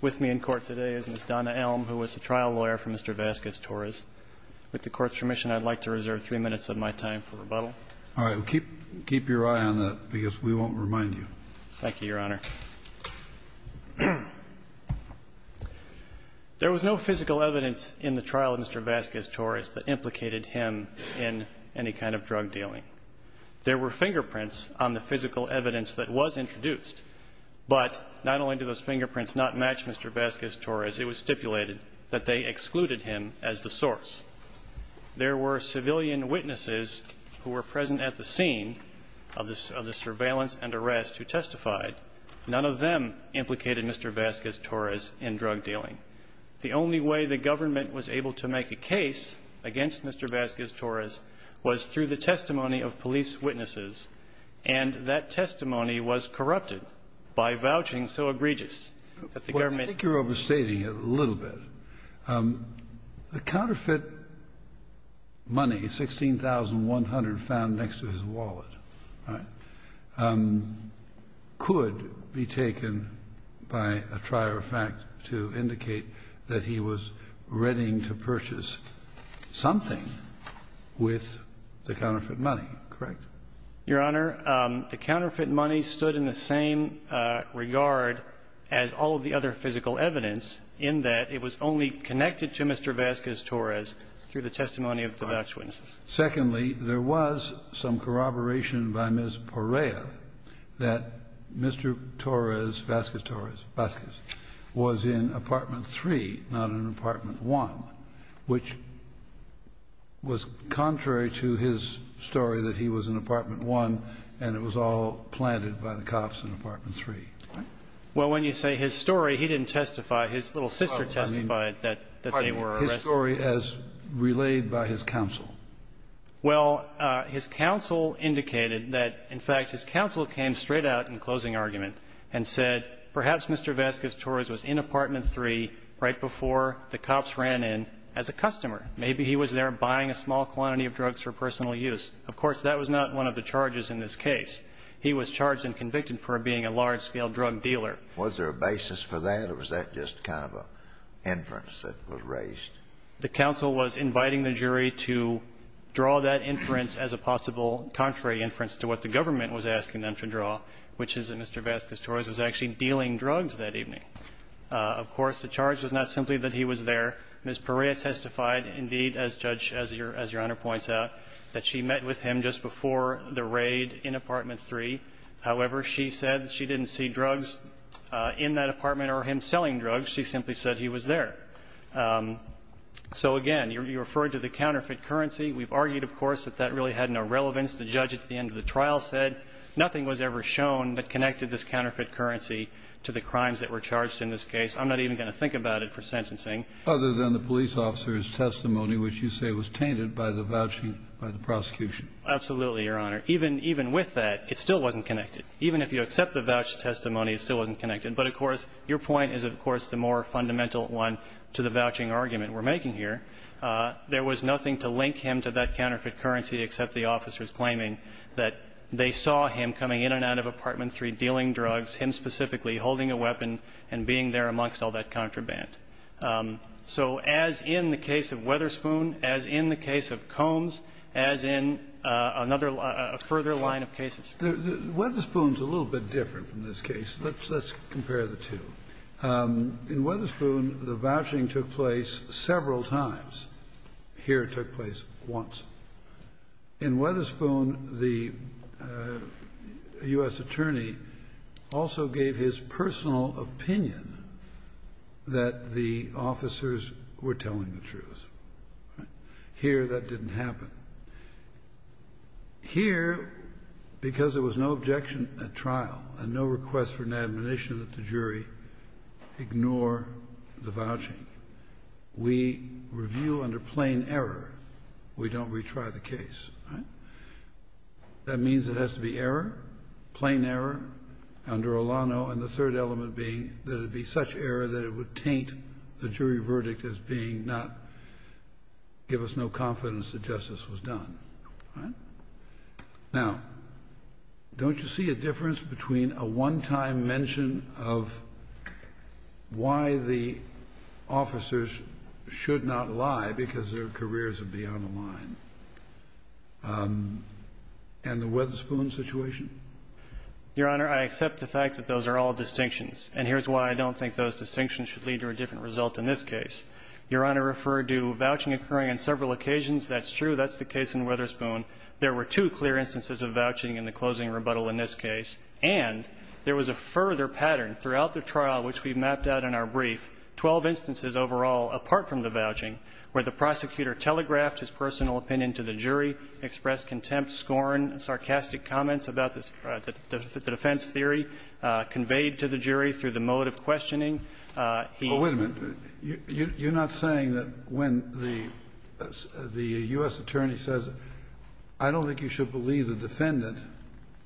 with me in court today is Ms. Donna Elm, who is the trial lawyer for Mr. Vasquez-Torres. With the Court's permission, I'd like to reserve three minutes of my time for rebuttal. All right. Keep your eye on that, because we won't remind you. Thank you, Your Honor. There was no physical evidence in the trial of Mr. Vasquez-Torres that implicated him in any kind of drug dealing. There were fingerprints on the physical evidence that was introduced, but not only did those fingerprints not match Mr. Vasquez-Torres, it was stipulated that they excluded him as the source. There were civilian witnesses who were present at the scene of the surveillance and arrest who testified. None of them implicated Mr. Vasquez-Torres in drug dealing. The only way the government was able to make a case against Mr. Vasquez-Torres was through the testimony of police witnesses, and that testimony was corrupted by vouching so egregious that the government ---- The counterfeit money, $16,100 found next to his wallet, could be taken by a trier of fact to indicate that he was readying to purchase something with the counterfeit money, correct? Your Honor, the counterfeit money stood in the same regard as all of the other physical evidence in that it was only connected to Mr. Vasquez-Torres through the testimony of the voucher witnesses. Secondly, there was some corroboration by Ms. Perea that Mr. Torres, Vasquez-Torres was in Apartment 3, not in Apartment 1, which was contrary to his story that he was in Apartment 1 and it was all planted by the cops in Apartment 3. Well, when you say his story, he didn't testify. His little sister testified that they were arrested. Pardon me. His story as relayed by his counsel. Well, his counsel indicated that, in fact, his counsel came straight out in closing argument and said perhaps Mr. Vasquez-Torres was in Apartment 3 right before the cops ran in as a customer. Maybe he was there buying a small quantity of drugs for personal use. Of course, that was not one of the charges in this case. He was charged and convicted for being a large-scale drug dealer. Was there a basis for that, or was that just kind of an inference that was raised? The counsel was inviting the jury to draw that inference as a possible contrary inference to what the government was asking them to draw, which is that Mr. Vasquez-Torres was actually dealing drugs that evening. Of course, the charge was not simply that he was there. Ms. Perea testified, indeed, as Judge as Your Honor points out, that she met with him just before the raid in Apartment 3. However, she said she didn't see drugs in that apartment or him selling drugs. She simply said he was there. So, again, you referred to the counterfeit currency. We've argued, of course, that that really had no relevance. The judge at the end of the trial said nothing was ever shown that connected this counterfeit currency to the crimes that were charged in this case. I'm not even going to think about it for sentencing. Other than the police officer's testimony, which you say was tainted by the vouching by the prosecution. Absolutely, Your Honor. Even with that, it still wasn't connected. Even if you accept the vouch testimony, it still wasn't connected. But, of course, your point is, of course, the more fundamental one to the vouching argument we're making here. There was nothing to link him to that counterfeit currency except the officers claiming that they saw him coming in and out of Apartment 3 dealing drugs, him specifically holding a weapon and being there amongst all that contraband. So as in the case of Wetherspoon, as in the case of Combs, as in another further line of cases. Well, Wetherspoon's a little bit different from this case. Let's compare the two. In Wetherspoon, the vouching took place several times. Here it took place once. In Wetherspoon, the U.S. attorney also gave his personal opinion that the voucher the officers were telling the truth. Here that didn't happen. Here, because there was no objection at trial and no request for an admonition that the jury ignore the vouching, we review under plain error. We don't retry the case. That means it has to be error, plain error, under Olano, and the third element being that it would be such error that it would taint the jury verdict as being not give us no confidence that justice was done. All right? Now, don't you see a difference between a one-time mention of why the officers should not lie because their careers are beyond the line and the Wetherspoon situation? Your Honor, I accept the fact that those are all distinctions, and here's why I don't think those distinctions should lead to a different result in this case. Your Honor referred to vouching occurring on several occasions. That's true. That's the case in Wetherspoon. There were two clear instances of vouching in the closing rebuttal in this case, and there was a further pattern throughout the trial which we mapped out in our brief, 12 instances overall apart from the vouching, where the prosecutor telegraphed his personal opinion to the jury, expressed contempt, scorn, sarcastic comments about the defense theory conveyed to the jury through the mode of questioning. He hadn't. Well, wait a minute. You're not saying that when the U.S. attorney says, I don't think you should believe the defendant,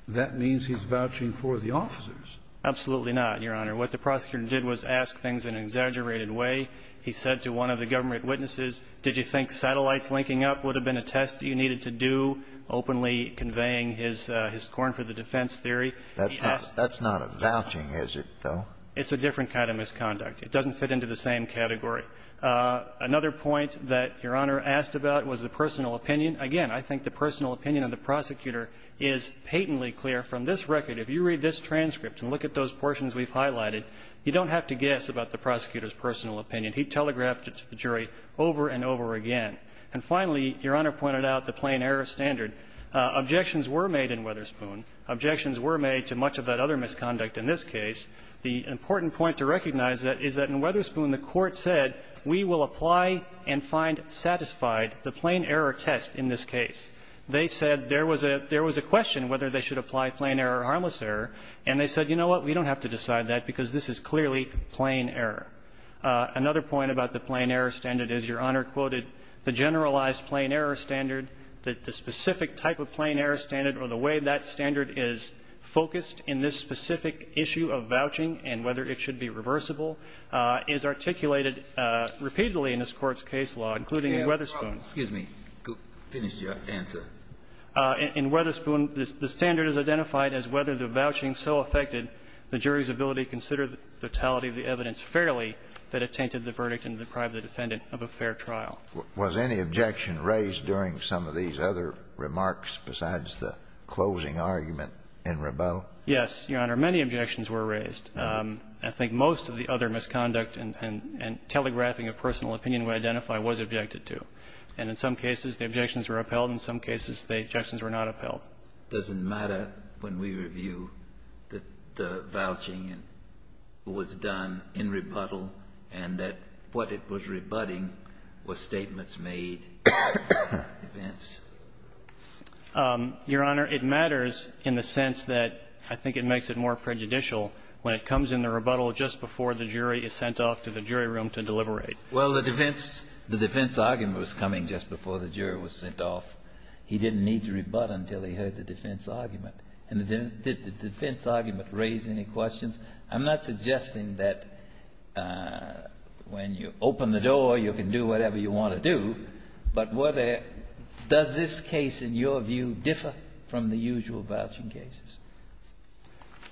that means he's vouching for the officers? Absolutely not, Your Honor. What the prosecutor did was ask things in an exaggerated way. He said to one of the government witnesses, did you think satellites linking up would have been a test that you needed to do, openly conveying his scorn for the defense theory? That's not a vouching, is it, though? It's a different kind of misconduct. It doesn't fit into the same category. Another point that Your Honor asked about was the personal opinion. Again, I think the personal opinion of the prosecutor is patently clear. From this record, if you read this transcript and look at those portions we've highlighted, you don't have to guess about the prosecutor's personal opinion. He telegraphed it to the jury over and over again. And finally, Your Honor pointed out the plain error standard. Objections were made in Wetherspoon. Objections were made to much of that other misconduct in this case. The important point to recognize is that in Wetherspoon, the Court said, we will apply and find satisfied the plain error test in this case. They said there was a question whether they should apply plain error or harmless error, and they said, you know what, we don't have to decide that, because this is clearly plain error. Another point about the plain error standard is Your Honor quoted the generalized plain error standard, that the specific type of plain error standard or the way that standard is focused in this specific issue of vouching and whether it should be reversible is articulated repeatedly in this Court's case law, including in Wetherspoon. Excuse me. Finish your answer. In Wetherspoon, the standard is identified as whether the vouching so affected the jury's ability to consider the totality of the evidence fairly that it tainted the verdict and deprived the defendant of a fair trial. Was any objection raised during some of these other remarks besides the closing argument in Rabeau? Yes, Your Honor. Many objections were raised. I think most of the other misconduct and telegraphing of personal opinion we identify was objected to. And in some cases, the objections were upheld. In some cases, the objections were not upheld. Well, does it matter when we review that the vouching was done in rebuttal and that what it was rebutting were statements made in advance? Your Honor, it matters in the sense that I think it makes it more prejudicial when it comes in the rebuttal just before the jury is sent off to the jury room to deliberate. Well, the defense argument was coming just before the jury was sent off. He didn't need to rebut until he heard the defense argument. And did the defense argument raise any questions? I'm not suggesting that when you open the door, you can do whatever you want to do, but were there – does this case, in your view, differ from the usual vouching cases?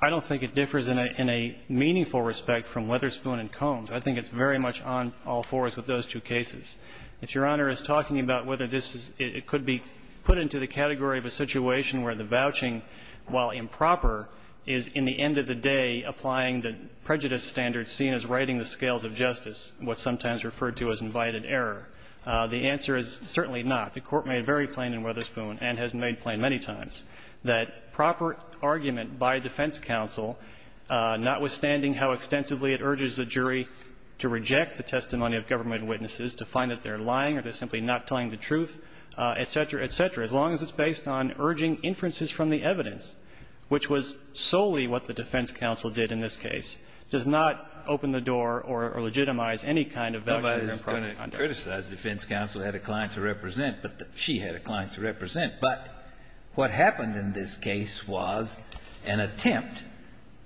I don't think it differs in a meaningful respect from Witherspoon and Combs. I think it's very much on all fours with those two cases. If Your Honor is talking about whether this is – it could be put into the category of a situation where the vouching, while improper, is in the end of the day applying the prejudice standards seen as righting the scales of justice, what's sometimes referred to as invited error, the answer is certainly not. The Court made very plain in Witherspoon, and has made plain many times, that proper argument by defense counsel, notwithstanding how extensively it urges the jury to reject the testimony of government witnesses to find that they're lying or they're simply not telling the truth, et cetera, et cetera, as long as it's based on urging inferences from the evidence, which was solely what the defense counsel did in this case, does not open the door or legitimize any kind of voucher-improper conduct. Kennedy. No one is going to criticize defense counsel had a client to represent, but she had a client to represent. But what happened in this case was an attempt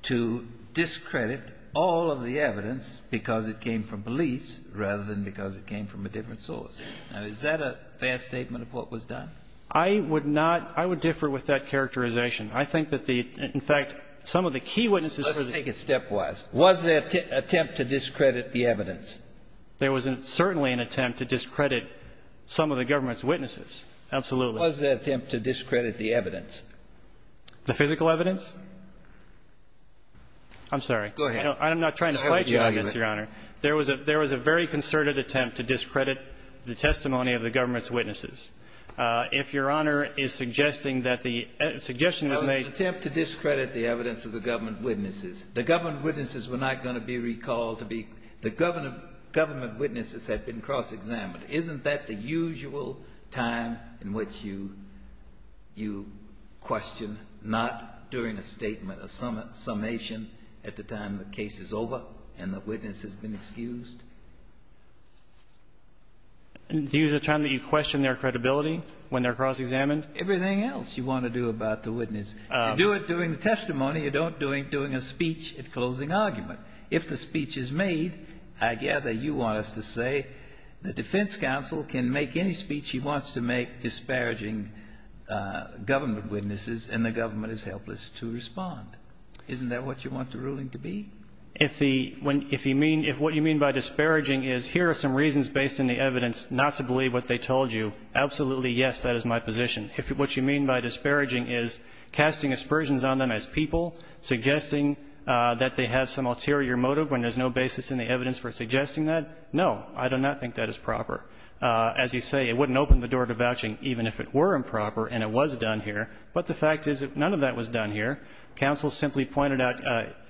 to discredit all of the evidence because it came from police rather than because it came from a different source. Now, is that a fair statement of what was done? I would not – I would differ with that characterization. I think that the – in fact, some of the key witnesses for the – Let's take it stepwise. Was there an attempt to discredit the evidence? There was certainly an attempt to discredit some of the government's witnesses. Absolutely. Was there an attempt to discredit the evidence? The physical evidence? I'm sorry. Go ahead. I'm not trying to fight you on this, Your Honor. There was a very concerted attempt to discredit the testimony of the government's witnesses. If Your Honor is suggesting that the suggestion was made – An attempt to discredit the evidence of the government witnesses. The government witnesses were not going to be recalled to be – the government witnesses had been cross-examined. Isn't that the usual time in which you question, not during a statement, a summation at the time the case is over and the witness has been excused? The usual time that you question their credibility when they're cross-examined? Everything else you want to do about the witness. You do it during the testimony. You don't do it during a speech at closing argument. If the speech is made, I gather you want us to say the defense counsel can make any speech he wants to make disparaging government witnesses and the government is helpless to respond. Isn't that what you want the ruling to be? If the – if you mean – if what you mean by disparaging is here are some reasons based in the evidence not to believe what they told you, absolutely, yes, that is my position. If what you mean by disparaging is casting aspersions on them as people, suggesting that they have some ulterior motive when there's no basis in the evidence for suggesting that, no, I do not think that is proper. As you say, it wouldn't open the door to vouching even if it were improper and it was done here. But the fact is that none of that was done here. Counsel simply pointed out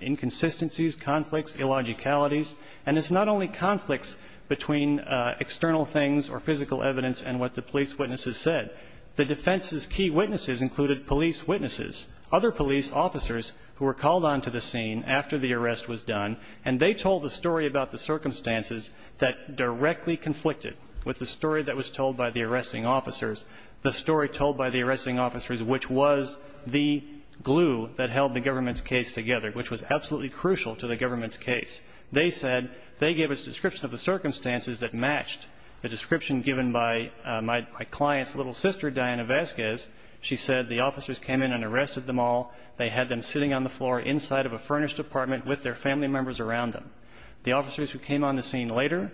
inconsistencies, conflicts, illogicalities, and it's not only conflicts between external things or physical evidence and what the police witnesses said. The defense's key witnesses included police witnesses, other police officers who were called onto the scene after the arrest was done and they told the story about the circumstances that directly conflicted with the story that was told by the arresting officers, which was the glue that held the government's case together, which was absolutely crucial to the government's case. They said they gave a description of the circumstances that matched the description given by my client's little sister, Diana Vasquez. She said the officers came in and arrested them all. They had them sitting on the floor inside of a furnished apartment with their family members around them. The officers who came on the scene later,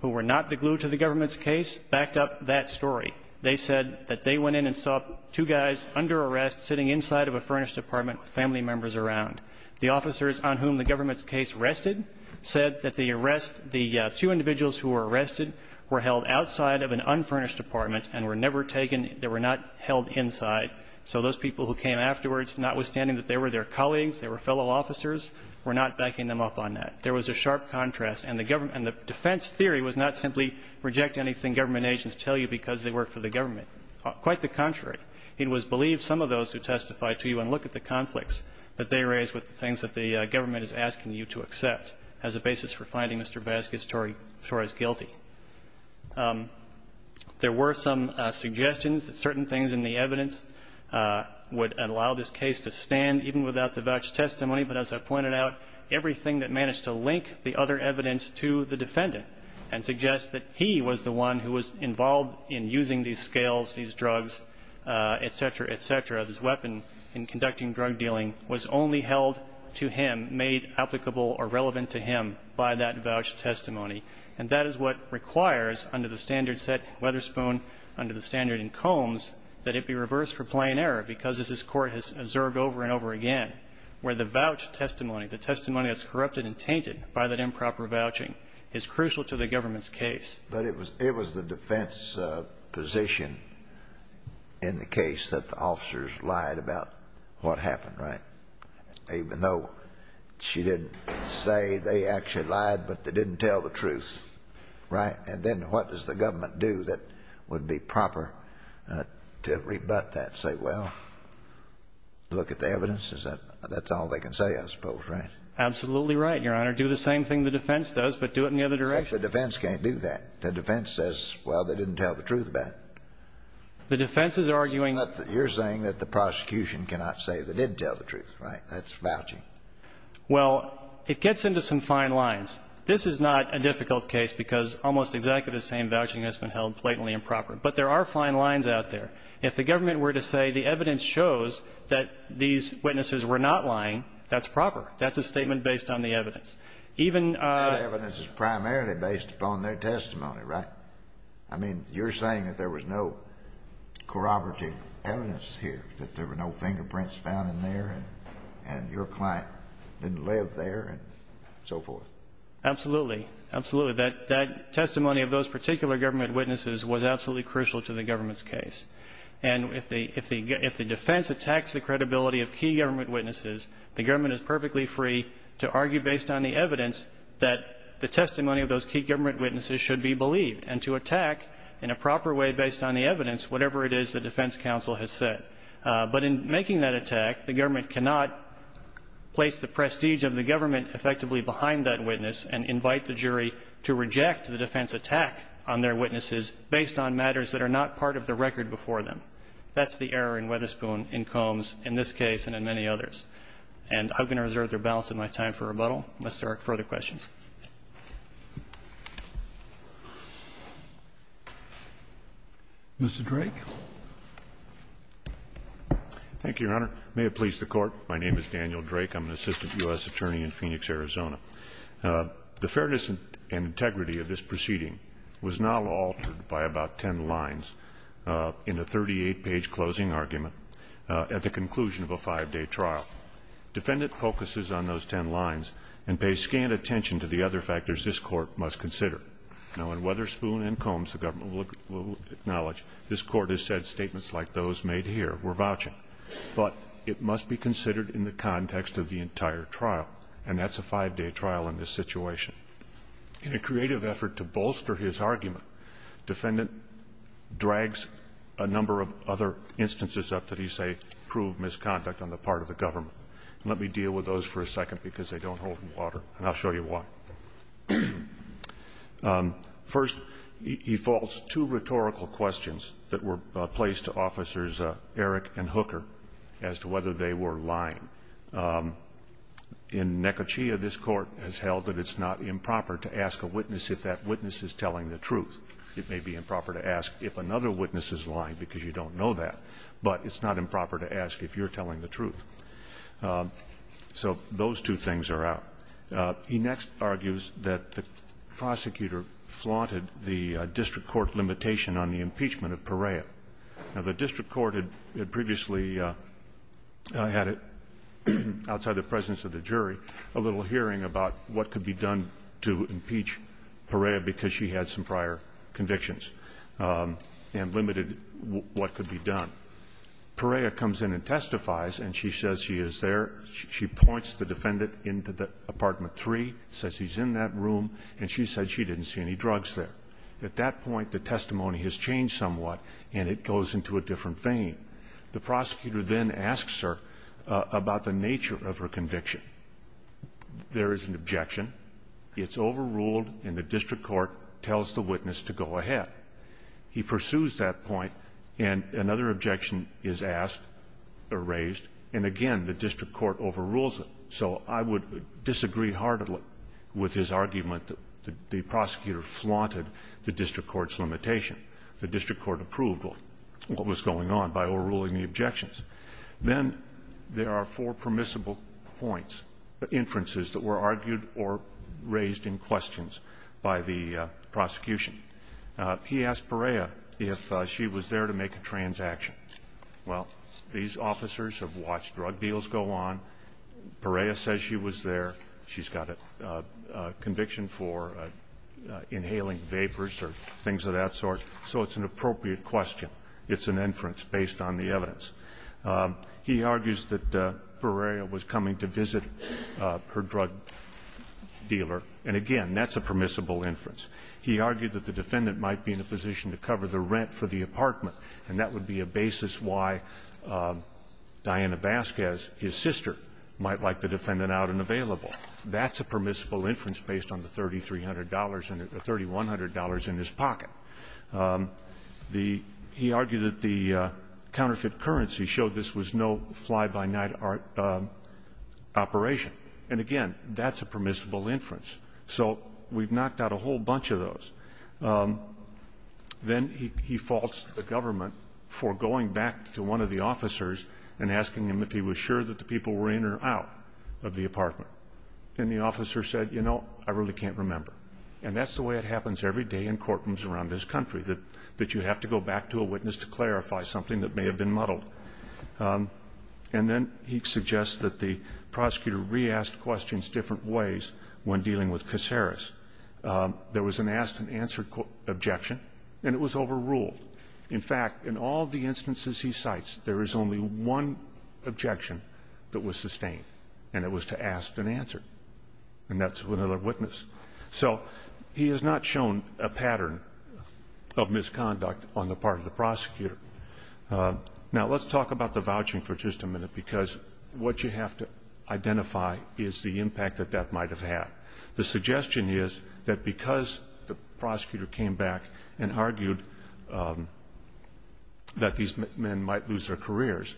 who were not the glue to the government's case, backed up that story. They said that they went in and saw two guys under arrest sitting inside of a furnished apartment with family members around. The officers on whom the government's case rested said that the arrest, the two individuals who were arrested were held outside of an unfurnished apartment and were never taken they were not held inside. So those people who came afterwards, notwithstanding that they were their colleagues, they were fellow officers, were not backing them up on that. There was a sharp contrast. And the defense theory was not simply reject anything government agents tell you because they work for the government. Quite the contrary. It was believed some of those who testified to you and look at the conflicts that they raised with the things that the government is asking you to accept as a basis for finding Mr. Vasquez-Torres guilty. There were some suggestions that certain things in the evidence would allow this case to stand even without the voucher testimony, but as I pointed out, everything that managed to link the other evidence to the defendant and suggest that he was the scales, these drugs, et cetera, et cetera, this weapon in conducting drug dealing was only held to him, made applicable or relevant to him by that voucher testimony. And that is what requires under the standard set, Weatherspoon, under the standard in Combs, that it be reversed for plain error because, as this Court has observed over and over again, where the voucher testimony, the testimony that's corrupted and tainted by that improper vouching is crucial to the government's case. But it was the defense position in the case that the officers lied about what happened, right, even though she didn't say they actually lied, but they didn't tell the truth, right? And then what does the government do that would be proper to rebut that, say, well, look at the evidence? That's all they can say, I suppose, right? Absolutely right, Your Honor. Do the same thing the defense does, but do it in the other direction. Except the defense can't do that. The defense says, well, they didn't tell the truth about it. The defense is arguing that the You're saying that the prosecution cannot say they did tell the truth, right? That's vouching. Well, it gets into some fine lines. This is not a difficult case because almost exactly the same vouching has been held blatantly improper. But there are fine lines out there. If the government were to say the evidence shows that these witnesses were not lying, that's proper. That's a statement based on the evidence. Even the evidence is primarily based upon their testimony, right? I mean, you're saying that there was no corroborative evidence here, that there were no fingerprints found in there and your client didn't live there and so forth. Absolutely. Absolutely. That testimony of those particular government witnesses was absolutely crucial to the government's case. And if the defense attacks the credibility of key government witnesses, the government is perfectly free to argue based on the evidence that the testimony of those key government witnesses should be believed and to attack in a proper way based on the evidence, whatever it is the defense counsel has said. But in making that attack, the government cannot place the prestige of the government effectively behind that witness and invite the jury to reject the defense attack on their witnesses based on matters that are not part of the record before them. That's the error in Witherspoon, in Combs, in this case and in many others. And I'm going to reserve the balance of my time for rebuttal. Unless there are further questions. Mr. Drake. Thank you, Your Honor. May it please the Court. My name is Daniel Drake. I'm an assistant U.S. attorney in Phoenix, Arizona. The fairness and integrity of this proceeding was not altered by about ten lines in a 38-page closing argument at the conclusion of a five-day trial. Defendant focuses on those ten lines and pays scant attention to the other factors this Court must consider. Now, in Witherspoon and Combs, the government will acknowledge this Court has said statements like those made here were vouching. But it must be considered in the context of the entire trial, and that's a five-day trial in this situation. In a creative effort to bolster his argument, defendant drags a number of other instances up that he says prove misconduct on the part of the government. And let me deal with those for a second because they don't hold water, and I'll show you why. First, he faults two rhetorical questions that were placed to Officers Erick and Hooker as to whether they were lying. In Nekochea, this Court has held that it's not improper to ask a witness if that witness is telling the truth. It may be improper to ask if another witness is lying because you don't know that, but it's not improper to ask if you're telling the truth. So those two things are out. He next argues that the prosecutor flaunted the district court limitation on the impeachment of Perea. Now, the district court had previously had, outside the presence of the jury, a little hearing about what could be done to impeach Perea because she had some prior convictions and limited what could be done. Perea comes in and testifies, and she says she is there. She points the defendant into the apartment three, says he's in that room, and she said she didn't see any drugs there. At that point, the testimony has changed somewhat, and it goes into a different vein. The prosecutor then asks her about the nature of her conviction. There is an objection. It's overruled, and the district court tells the witness to go ahead. He pursues that point, and another objection is asked or raised, and again, the district court overrules it. So I would disagree heartily with his argument that the prosecutor flaunted the district court's limitation. The district court approved what was going on by overruling the objections. Then there are four permissible points, inferences that were argued or raised in questions by the prosecution. He asked Perea if she was there to make a transaction. Well, these officers have watched drug deals go on. Perea says she was there. She's got a conviction for inhaling vapors or things of that sort. So it's an appropriate question. It's an inference based on the evidence. He argues that Perea was coming to visit her drug dealer, and again, that's a permissible inference. He argued that the defendant might be in a position to cover the rent for the apartment, and that would be a basis why Diana Vasquez, his sister, might like the defendant out and available. That's a permissible inference based on the $3,300 and the $3,100 in his pocket. The — he argued that the counterfeit currency showed this was no fly-by-night operation. And again, that's a permissible inference. So we've knocked out a whole bunch of those. Then he faults the government for going back to one of the officers and asking him if he was sure that the people were in or out of the apartment. And the officer said, you know, I really can't remember. And that's the way it happens every day in courtrooms around this country, that you have to go back to a witness to clarify something that may have been muddled. And then he suggests that the prosecutor re-asked questions different ways when dealing with Caceres. There was an ask-and-answer objection, and it was overruled. In fact, in all the instances he cites, there is only one objection that was sustained, and it was to ask and answer. And that's with another witness. So he has not shown a pattern of misconduct on the part of the prosecutor. Now, let's talk about the vouching for just a minute, because what you have to identify is the impact that that might have had. The suggestion is that because the prosecutor came back and argued that these men might lose their careers,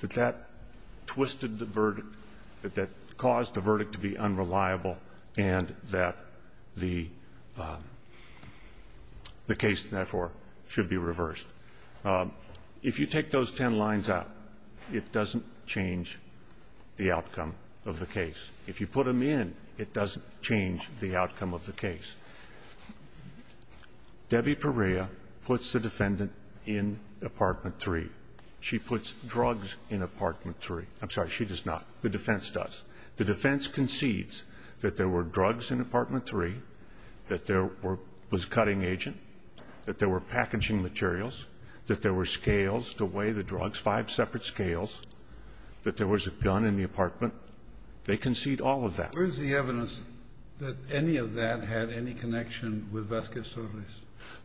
that that twisted the verdict, that that caused the verdict to be unreliable, and that the case, therefore, should be reversed. If you take those ten lines out, it doesn't change the outcome of the case. If you put them in, it doesn't change the outcome of the case. Debbie Perea puts the defendant in Apartment 3. She puts drugs in Apartment 3. I'm sorry, she does not. The defense does. The defense concedes that there were drugs in Apartment 3, that there was cutting agent, that there were packaging materials, that there were scales to weigh the drugs, five separate scales, that there was a gun in the apartment. They concede all of that. Kennedy. Where is the evidence that any of that had any connection with Vasquez Solis?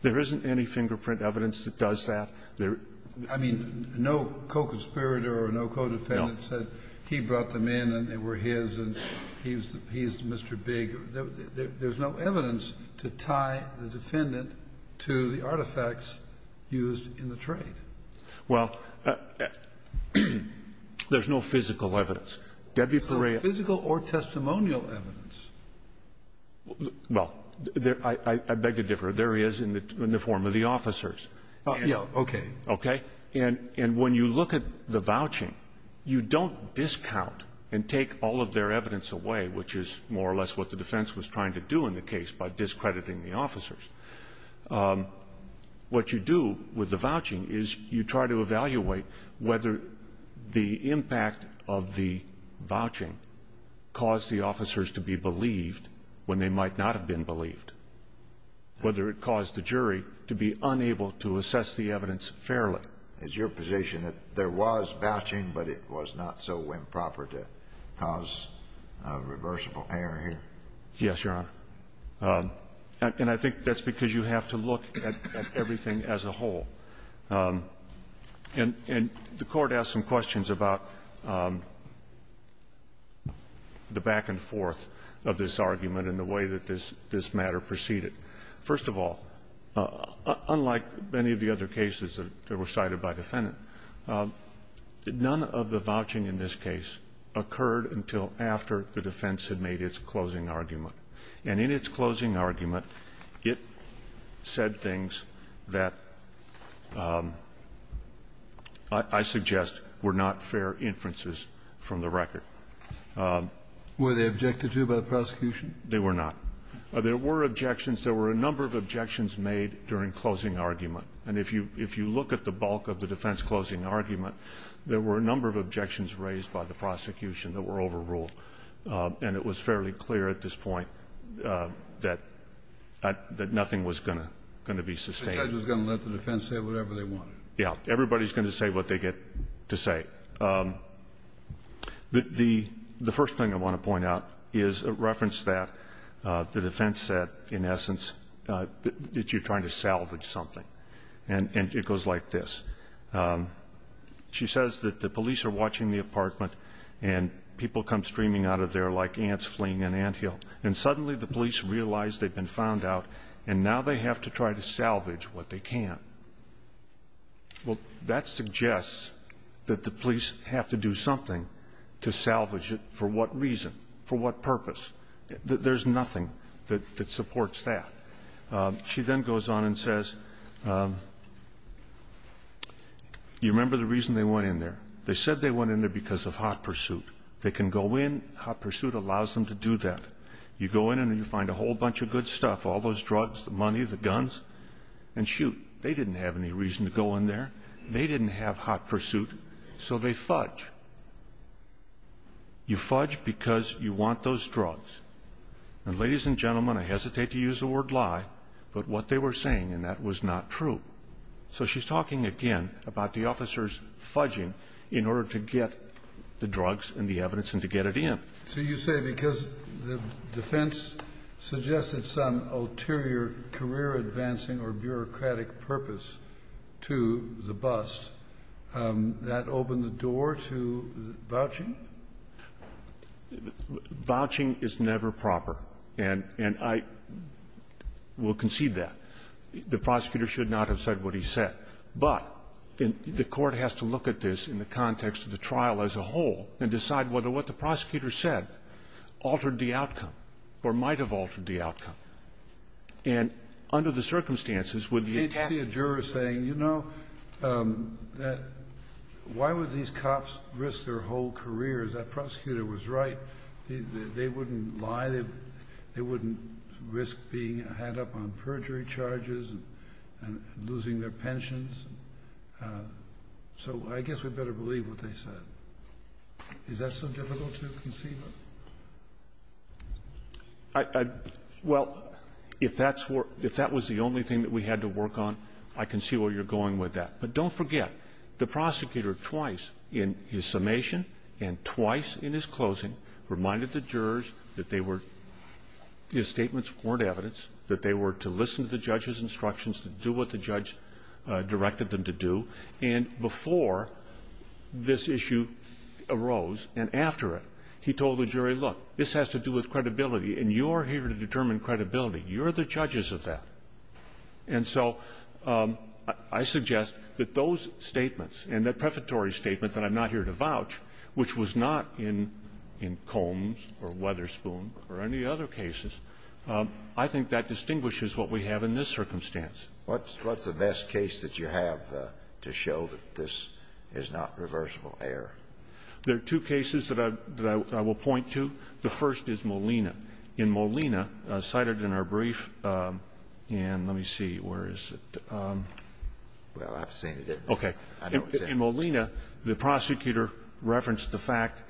There isn't any fingerprint evidence that does that. I mean, no co-conspirator or no co-defendant said he brought them in and they were his and he's Mr. Big. There's no evidence to tie the defendant to the artifacts used in the trade. Well, there's no physical evidence. Debbie Perea. There's no physical or testimonial evidence. Well, I beg to differ. There is in the form of the officers. Yes, okay. Okay? And when you look at the vouching, you don't discount and take all of their evidence away, which is more or less what the defense was trying to do in the case by discrediting the officers. What you do with the vouching is you try to evaluate whether the impact of the vouching caused the officers to be believed when they might not have been believed, whether it caused the jury to be unable to assess the evidence fairly. Is your position that there was vouching, but it was not so improper to cause reversible error here? Yes, Your Honor. And I think that's because you have to look at everything as a whole. And the Court asked some questions about the back and forth of this argument and the way that this matter proceeded. First of all, unlike many of the other cases that were cited by the defendant, none of the vouching in this case occurred until after the defense had made its closing argument. And in its closing argument, it said things that I suggest were not fair inferences from the record. Were they objected to by the prosecution? They were not. There were objections. There were a number of objections made during closing argument. And if you look at the bulk of the defense closing argument, there were a number of objections raised by the prosecution that were overruled. And it was fairly clear at this point that nothing was going to be sustained. The judge was going to let the defense say whatever they wanted. Yes. Everybody's going to say what they get to say. The first thing I want to point out is a reference that the defense said, in essence, that you're trying to salvage something. And it goes like this. She says that the police are watching the apartment, and people come streaming out of there like ants fleeing an anthill. And suddenly the police realize they've been found out, and now they have to try to salvage what they can't. Well, that suggests that the police have to do something to salvage it. For what reason? For what purpose? There's nothing that supports that. She then goes on and says, you remember the reason they went in there. They said they went in there because of hot pursuit. They can go in. Hot pursuit allows them to do that. You go in and you find a whole bunch of good stuff, all those drugs, the money, the guns, and shoot. They didn't have any reason to go in there. They didn't have hot pursuit. So they fudge. You fudge because you want those drugs. And, ladies and gentlemen, I hesitate to use the word lie, but what they were saying, and that was not true. So she's talking, again, about the officers fudging in order to get the drugs and the evidence and to get it in. So you say because the defense suggested some ulterior career advancing or bureaucratic purpose to the bust, that opened the door to vouching? Vouching is never proper. And I will concede that. The prosecutor should not have said what he said. But the court has to look at this in the context of the trial as a whole and decide whether what the prosecutor said altered the outcome or might have altered the outcome. And under the circumstances, would you attack the jury? I mean, you were saying, you know, why would these cops risk their whole careers? That prosecutor was right. They wouldn't lie. They wouldn't risk being had up on perjury charges and losing their pensions. So I guess we better believe what they said. Is that so difficult to conceive of? Well, if that was the only thing that we had to work on, I can see where you're going with that. But don't forget, the prosecutor twice in his summation and twice in his closing reminded the jurors that they were his statements weren't evidence, that they were to listen to the judge's instructions, to do what the judge directed them to do. And before this issue arose and after it, he told the jury, look, this has to do with credibility, and you're here to determine credibility. You're the judges of that. And so I suggest that those statements and that prefatory statement that I'm not here to vouch, which was not in Combs or Weatherspoon or any other cases, I think that distinguishes what we have in this circumstance. What's the best case that you have to show that this is not reversible error? There are two cases that I will point to. The first is Molina. In Molina, cited in our brief, and let me see, where is it? Well, I've seen it. Okay. In Molina, the prosecutor referenced the fact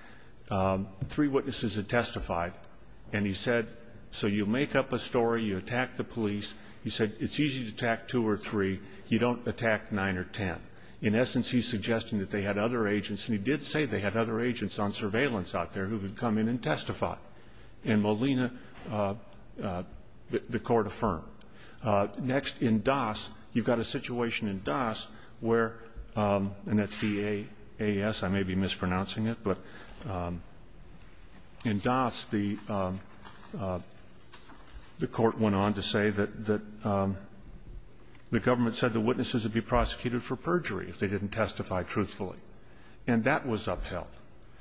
three witnesses had testified, and he said, so you make up a story, you attack the police. He said it's easy to attack two or three. You don't attack nine or ten. In essence, he's suggesting that they had other agents, and he did say they had other agents on surveillance out there who could come in and testify. In Molina, the Court affirmed. Next, in Das, you've got a situation in Das where, and that's D-A-S. I may be mispronouncing it. In Das, the Court went on to say that the government said the witnesses would be prosecuted for perjury if they didn't testify truthfully, and that was upheld.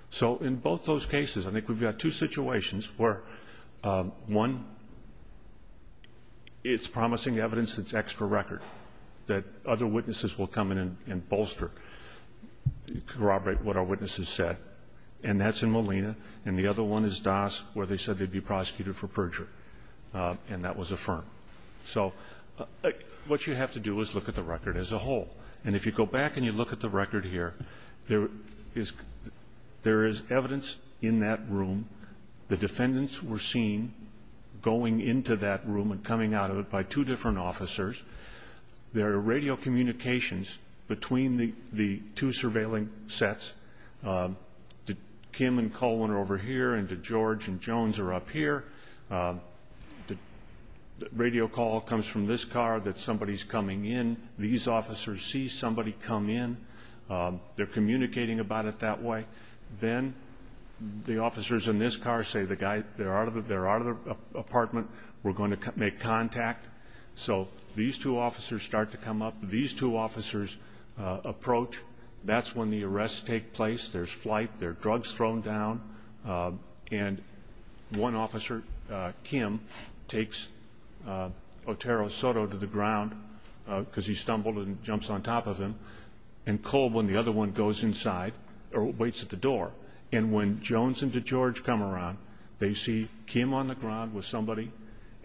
So in both those cases, I think we've got two situations where, one, it's promising evidence that's extra record, that other witnesses will come in and bolster, corroborate what our witnesses said, and that's in Molina. And the other one is Das where they said they'd be prosecuted for perjury, and that was affirmed. So what you have to do is look at the record as a whole. And if you go back and you look at the record here, there is evidence in that room. The defendants were seen going into that room and coming out of it by two different officers. There are radio communications between the two surveilling sets. Kim and Colin are over here, and George and Jones are up here. The radio call comes from this car that somebody's coming in. These officers see somebody come in. They're communicating about it that way. Then the officers in this car say, the guy, they're out of the apartment. We're going to make contact. So these two officers start to come up. These two officers approach. That's when the arrests take place. There's flight. There are drugs thrown down. And one officer, Kim, takes Otero Soto to the ground because he stumbled and jumps on top of him, and Colin, the other one, goes inside or waits at the door. And when Jones and George come around, they see Kim on the ground with somebody,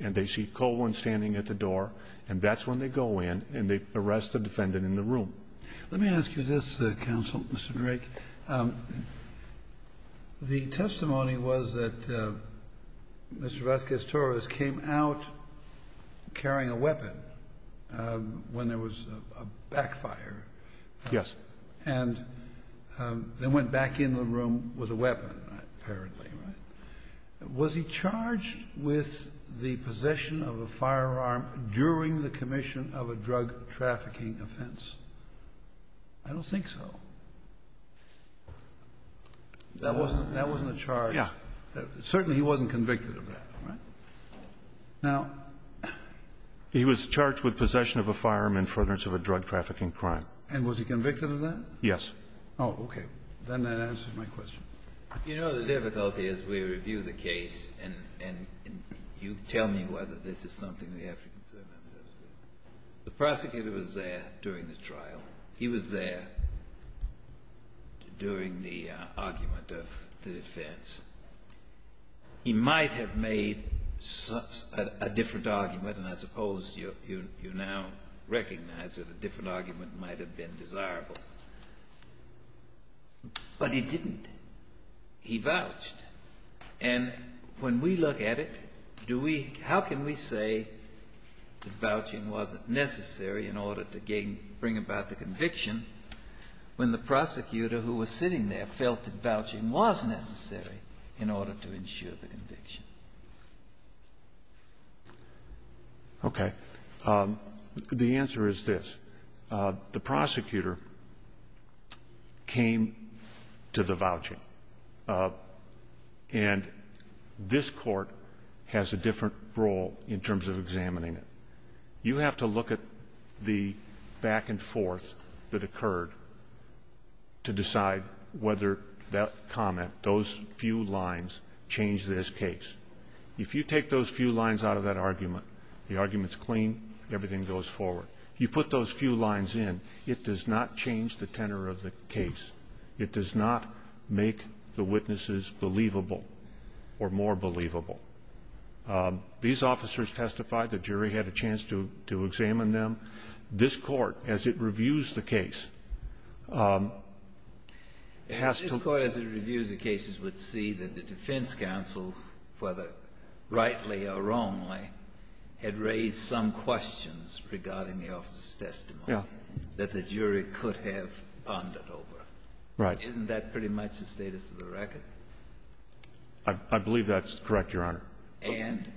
and they see Colin standing at the door. And that's when they go in and they arrest the defendant in the room. Let me ask you this, Counsel, Mr. Drake. The testimony was that Mr. Vasquez-Torres came out carrying a weapon when there was a backfire. Yes. And then went back in the room with a weapon, apparently, right? Was he charged with the possession of a firearm during the commission of a drug trafficking offense? I don't think so. That wasn't a charge. Yeah. Certainly he wasn't convicted of that, right? Now he was charged with possession of a firearm in front of a drug trafficking crime. And was he convicted of that? Yes. Oh, okay. Then that answers my question. You know the difficulty as we review the case, and you tell me whether this is something we have to concern ourselves with. The prosecutor was there during the trial. He was there during the argument of the defense. He might have made a different argument, and I suppose you now recognize that a different argument might have been desirable. But he didn't. He vouched. And when we look at it, do we – how can we say that vouching wasn't necessary in order to gain – bring about the conviction when the prosecutor who was sitting there felt that vouching was necessary in order to ensure the conviction? Okay. The answer is this. The prosecutor came to the voucher, and this Court has a different role in terms of examining it. You have to look at the back and forth that occurred to decide whether that comment, those few lines, changed this case. If you take those few lines out of that argument, the argument's clean, everything goes forward. You put those few lines in, it does not change the tenor of the case. It does not make the witnesses believable or more believable. These officers testified. The jury had a chance to examine them. This Court, as it reviews the case, has to – whether rightly or wrongly, had raised some questions regarding the officer's testimony that the jury could have pondered over. Isn't that pretty much the status of the record? I believe that's correct, Your Honor. And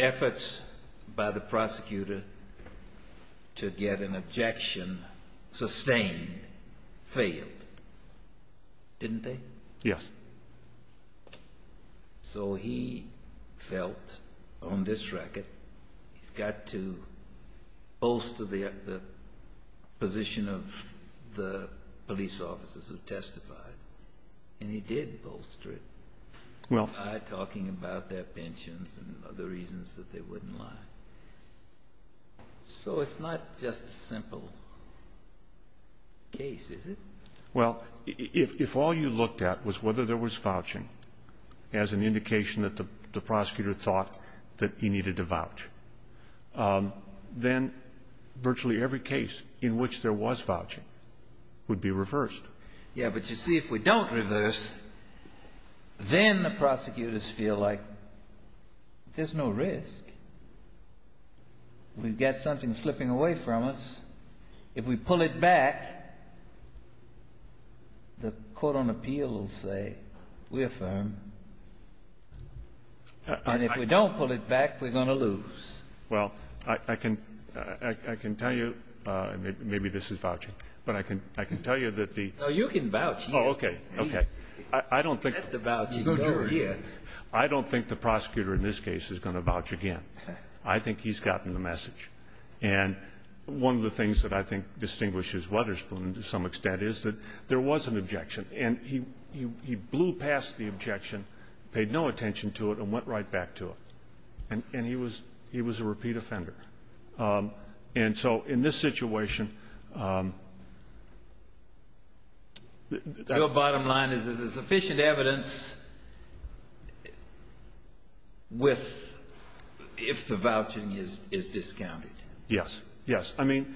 efforts by the prosecutor to get an objection sustained failed, didn't they? Yes. So he felt on this record he's got to bolster the position of the police officers who testified. And he did bolster it. Well. By talking about their pensions and other reasons that they wouldn't lie. So it's not just a simple case, is it? Well, if all you looked at was whether there was vouching as an indication that the prosecutor thought that he needed to vouch, then virtually every case in which there was vouching would be reversed. Yeah, but you see, if we don't reverse, then the prosecutors feel like there's no risk. We've got something slipping away from us. If we pull it back, the court on appeal will say we're firm. And if we don't pull it back, we're going to lose. Well, I can tell you, maybe this is vouching, but I can tell you that the ---- No, you can vouch. Oh, okay. Okay. I don't think ---- Let the vouching go here. I don't think the prosecutor in this case is going to vouch again. I think he's gotten the message. And one of the things that I think distinguishes Wetherspoon to some extent is that there was an objection, and he blew past the objection, paid no attention to it, and went right back to it. And he was a repeat offender. And so in this situation ---- Your bottom line is there's sufficient evidence if the vouching is discounted. Yes, yes. I mean,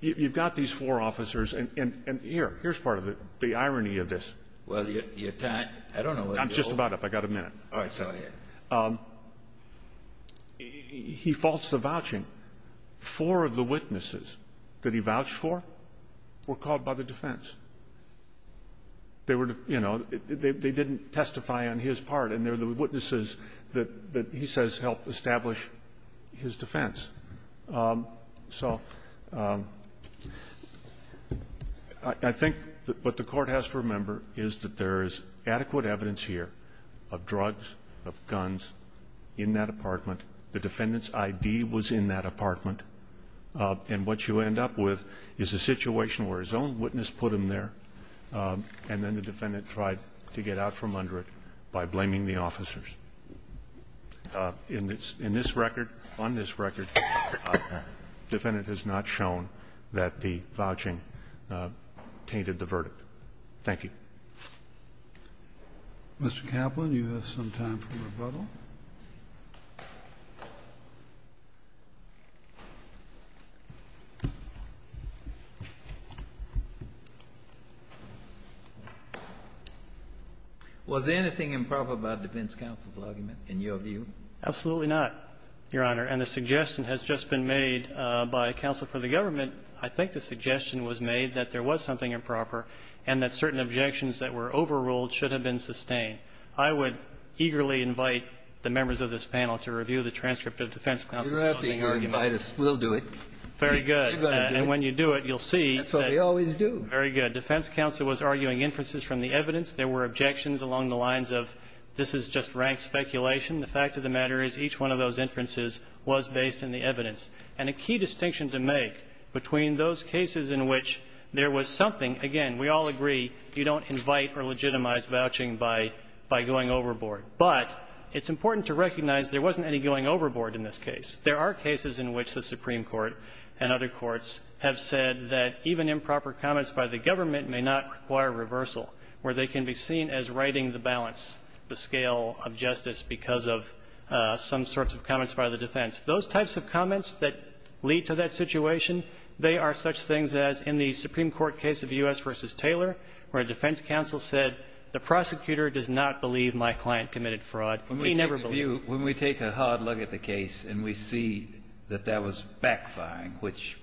you've got these four officers, and here, here's part of the irony of this. Well, your time ---- I don't know what your ---- I'm just about up. I've got a minute. All right. Go ahead. He faults the vouching. Four of the witnesses that he vouched for were called by the defense. They were, you know, they didn't testify on his part, and they're the witnesses that he says helped establish his defense. So I think what the Court has to remember is that there is adequate evidence here of drugs, of guns in that apartment. The defendant's ID was in that apartment. And what you end up with is a situation where his own witness put him there, and then the defendant tried to get out from under it by blaming the officers. In this record, on this record, the defendant has not shown that the vouching tainted the verdict. Thank you. Mr. Kaplan, you have some time for rebuttal. Was anything improper about defense counsel's argument, in your view? Absolutely not, Your Honor. And the suggestion has just been made by counsel for the government. I think the suggestion was made that there was something improper and that certain objections that were overruled should have been sustained. I would eagerly invite the members of this panel to review the transcript of defense counsel's argument. You don't have to invite us. We'll do it. Very good. And when you do it, you'll see that. That's what we always do. Very good. Defense counsel was arguing inferences from the evidence. There were objections along the lines of this is just rank speculation. The fact of the matter is each one of those inferences was based in the evidence. And a key distinction to make between those cases in which there was something – again, we all agree you don't invite or legitimize vouching by going overboard. But it's important to recognize there wasn't any going overboard in this case. There are cases in which the Supreme Court and other courts have said that even improper comments by the government may not require reversal, where they can be seen as righting the balance, the scale of justice because of some sorts of comments by the defense. Those types of comments that lead to that situation, they are such things as in the Supreme Court case of U.S. v. Taylor, where a defense counsel said the prosecutor does not believe my client committed fraud. He never believed it. When we take a hard look at the case and we see that there was backfiring, which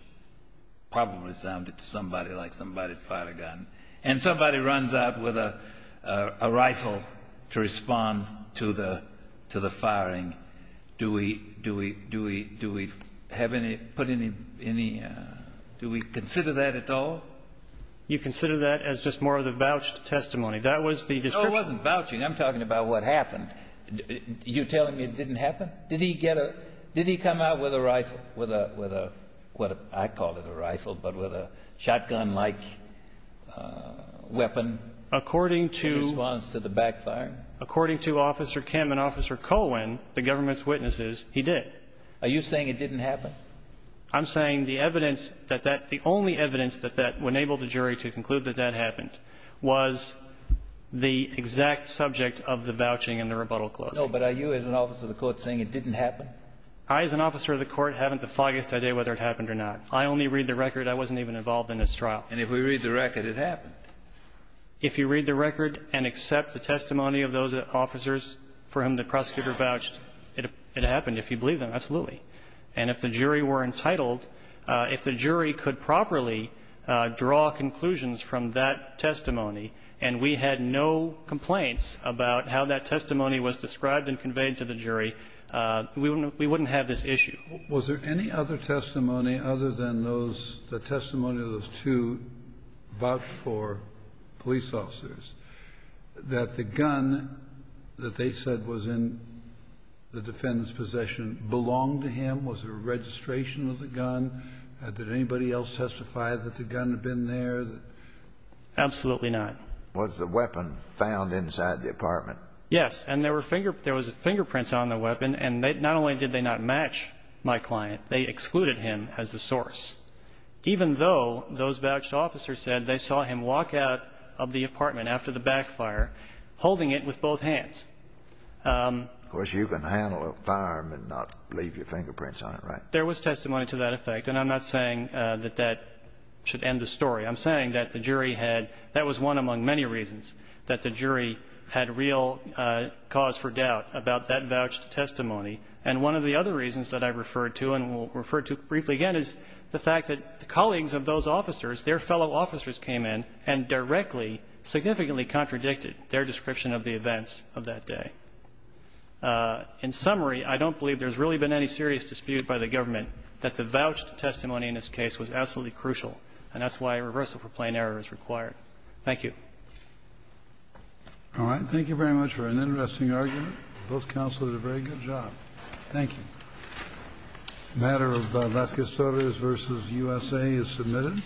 probably sounded to somebody like somebody fired a gun, and somebody runs out with a rifle to respond to the firing, do we have any – put any – do we consider that at all? You consider that as just more of the vouched testimony. That was the description. No, it wasn't vouching. I'm talking about what happened. You're telling me it didn't happen? Did he get a – did he come out with a rifle, with a – what I call it a rifle, but with a shotgun-like weapon? According to – In response to the backfiring? According to Officer Kim and Officer Colwin, the government's witnesses, he did. Are you saying it didn't happen? I'm saying the evidence that that – the only evidence that that enabled the jury to conclude that that happened was the exact subject of the vouching and the rebuttal clause. No, but are you, as an officer of the Court, saying it didn't happen? I, as an officer of the Court, haven't the foggiest idea whether it happened or not. I only read the record. I wasn't even involved in this trial. And if we read the record, it happened. If you read the record and accept the testimony of those officers for whom the prosecutor vouched, it happened. If you believe them, absolutely. And if the jury were entitled, if the jury could properly draw conclusions from that testimony and we had no complaints about how that testimony was described and conveyed to the jury, we wouldn't have this issue. Was there any other testimony other than those – the testimony of those two vouched for police officers that the gun that they said was in the defendant's possession belonged to him? Was there a registration of the gun? Did anybody else testify that the gun had been there? Absolutely not. Was the weapon found inside the apartment? Yes. And there were fingerprints on the weapon. And not only did they not match my client, they excluded him as the source, even though those vouched officers said they saw him walk out of the apartment after the backfire holding it with both hands. Of course, you can handle a firearm and not leave your fingerprints on it, right? There was testimony to that effect. And I'm not saying that that should end the story. I'm saying that the jury had – that was one among many reasons that the jury had real cause for doubt about that vouched testimony. And one of the other reasons that I referred to and will refer to briefly again is the fact that the colleagues of those officers, their fellow officers came in and directly significantly contradicted their description of the events of that day. In summary, I don't believe there's really been any serious dispute by the government that the vouched testimony in this case was absolutely crucial. And that's why a reversal for plain error is required. Thank you. All right. Thank you very much for an interesting argument. Both counselors did a very good job. Thank you. The matter of Vasquez-Sotos v. USA is submitted.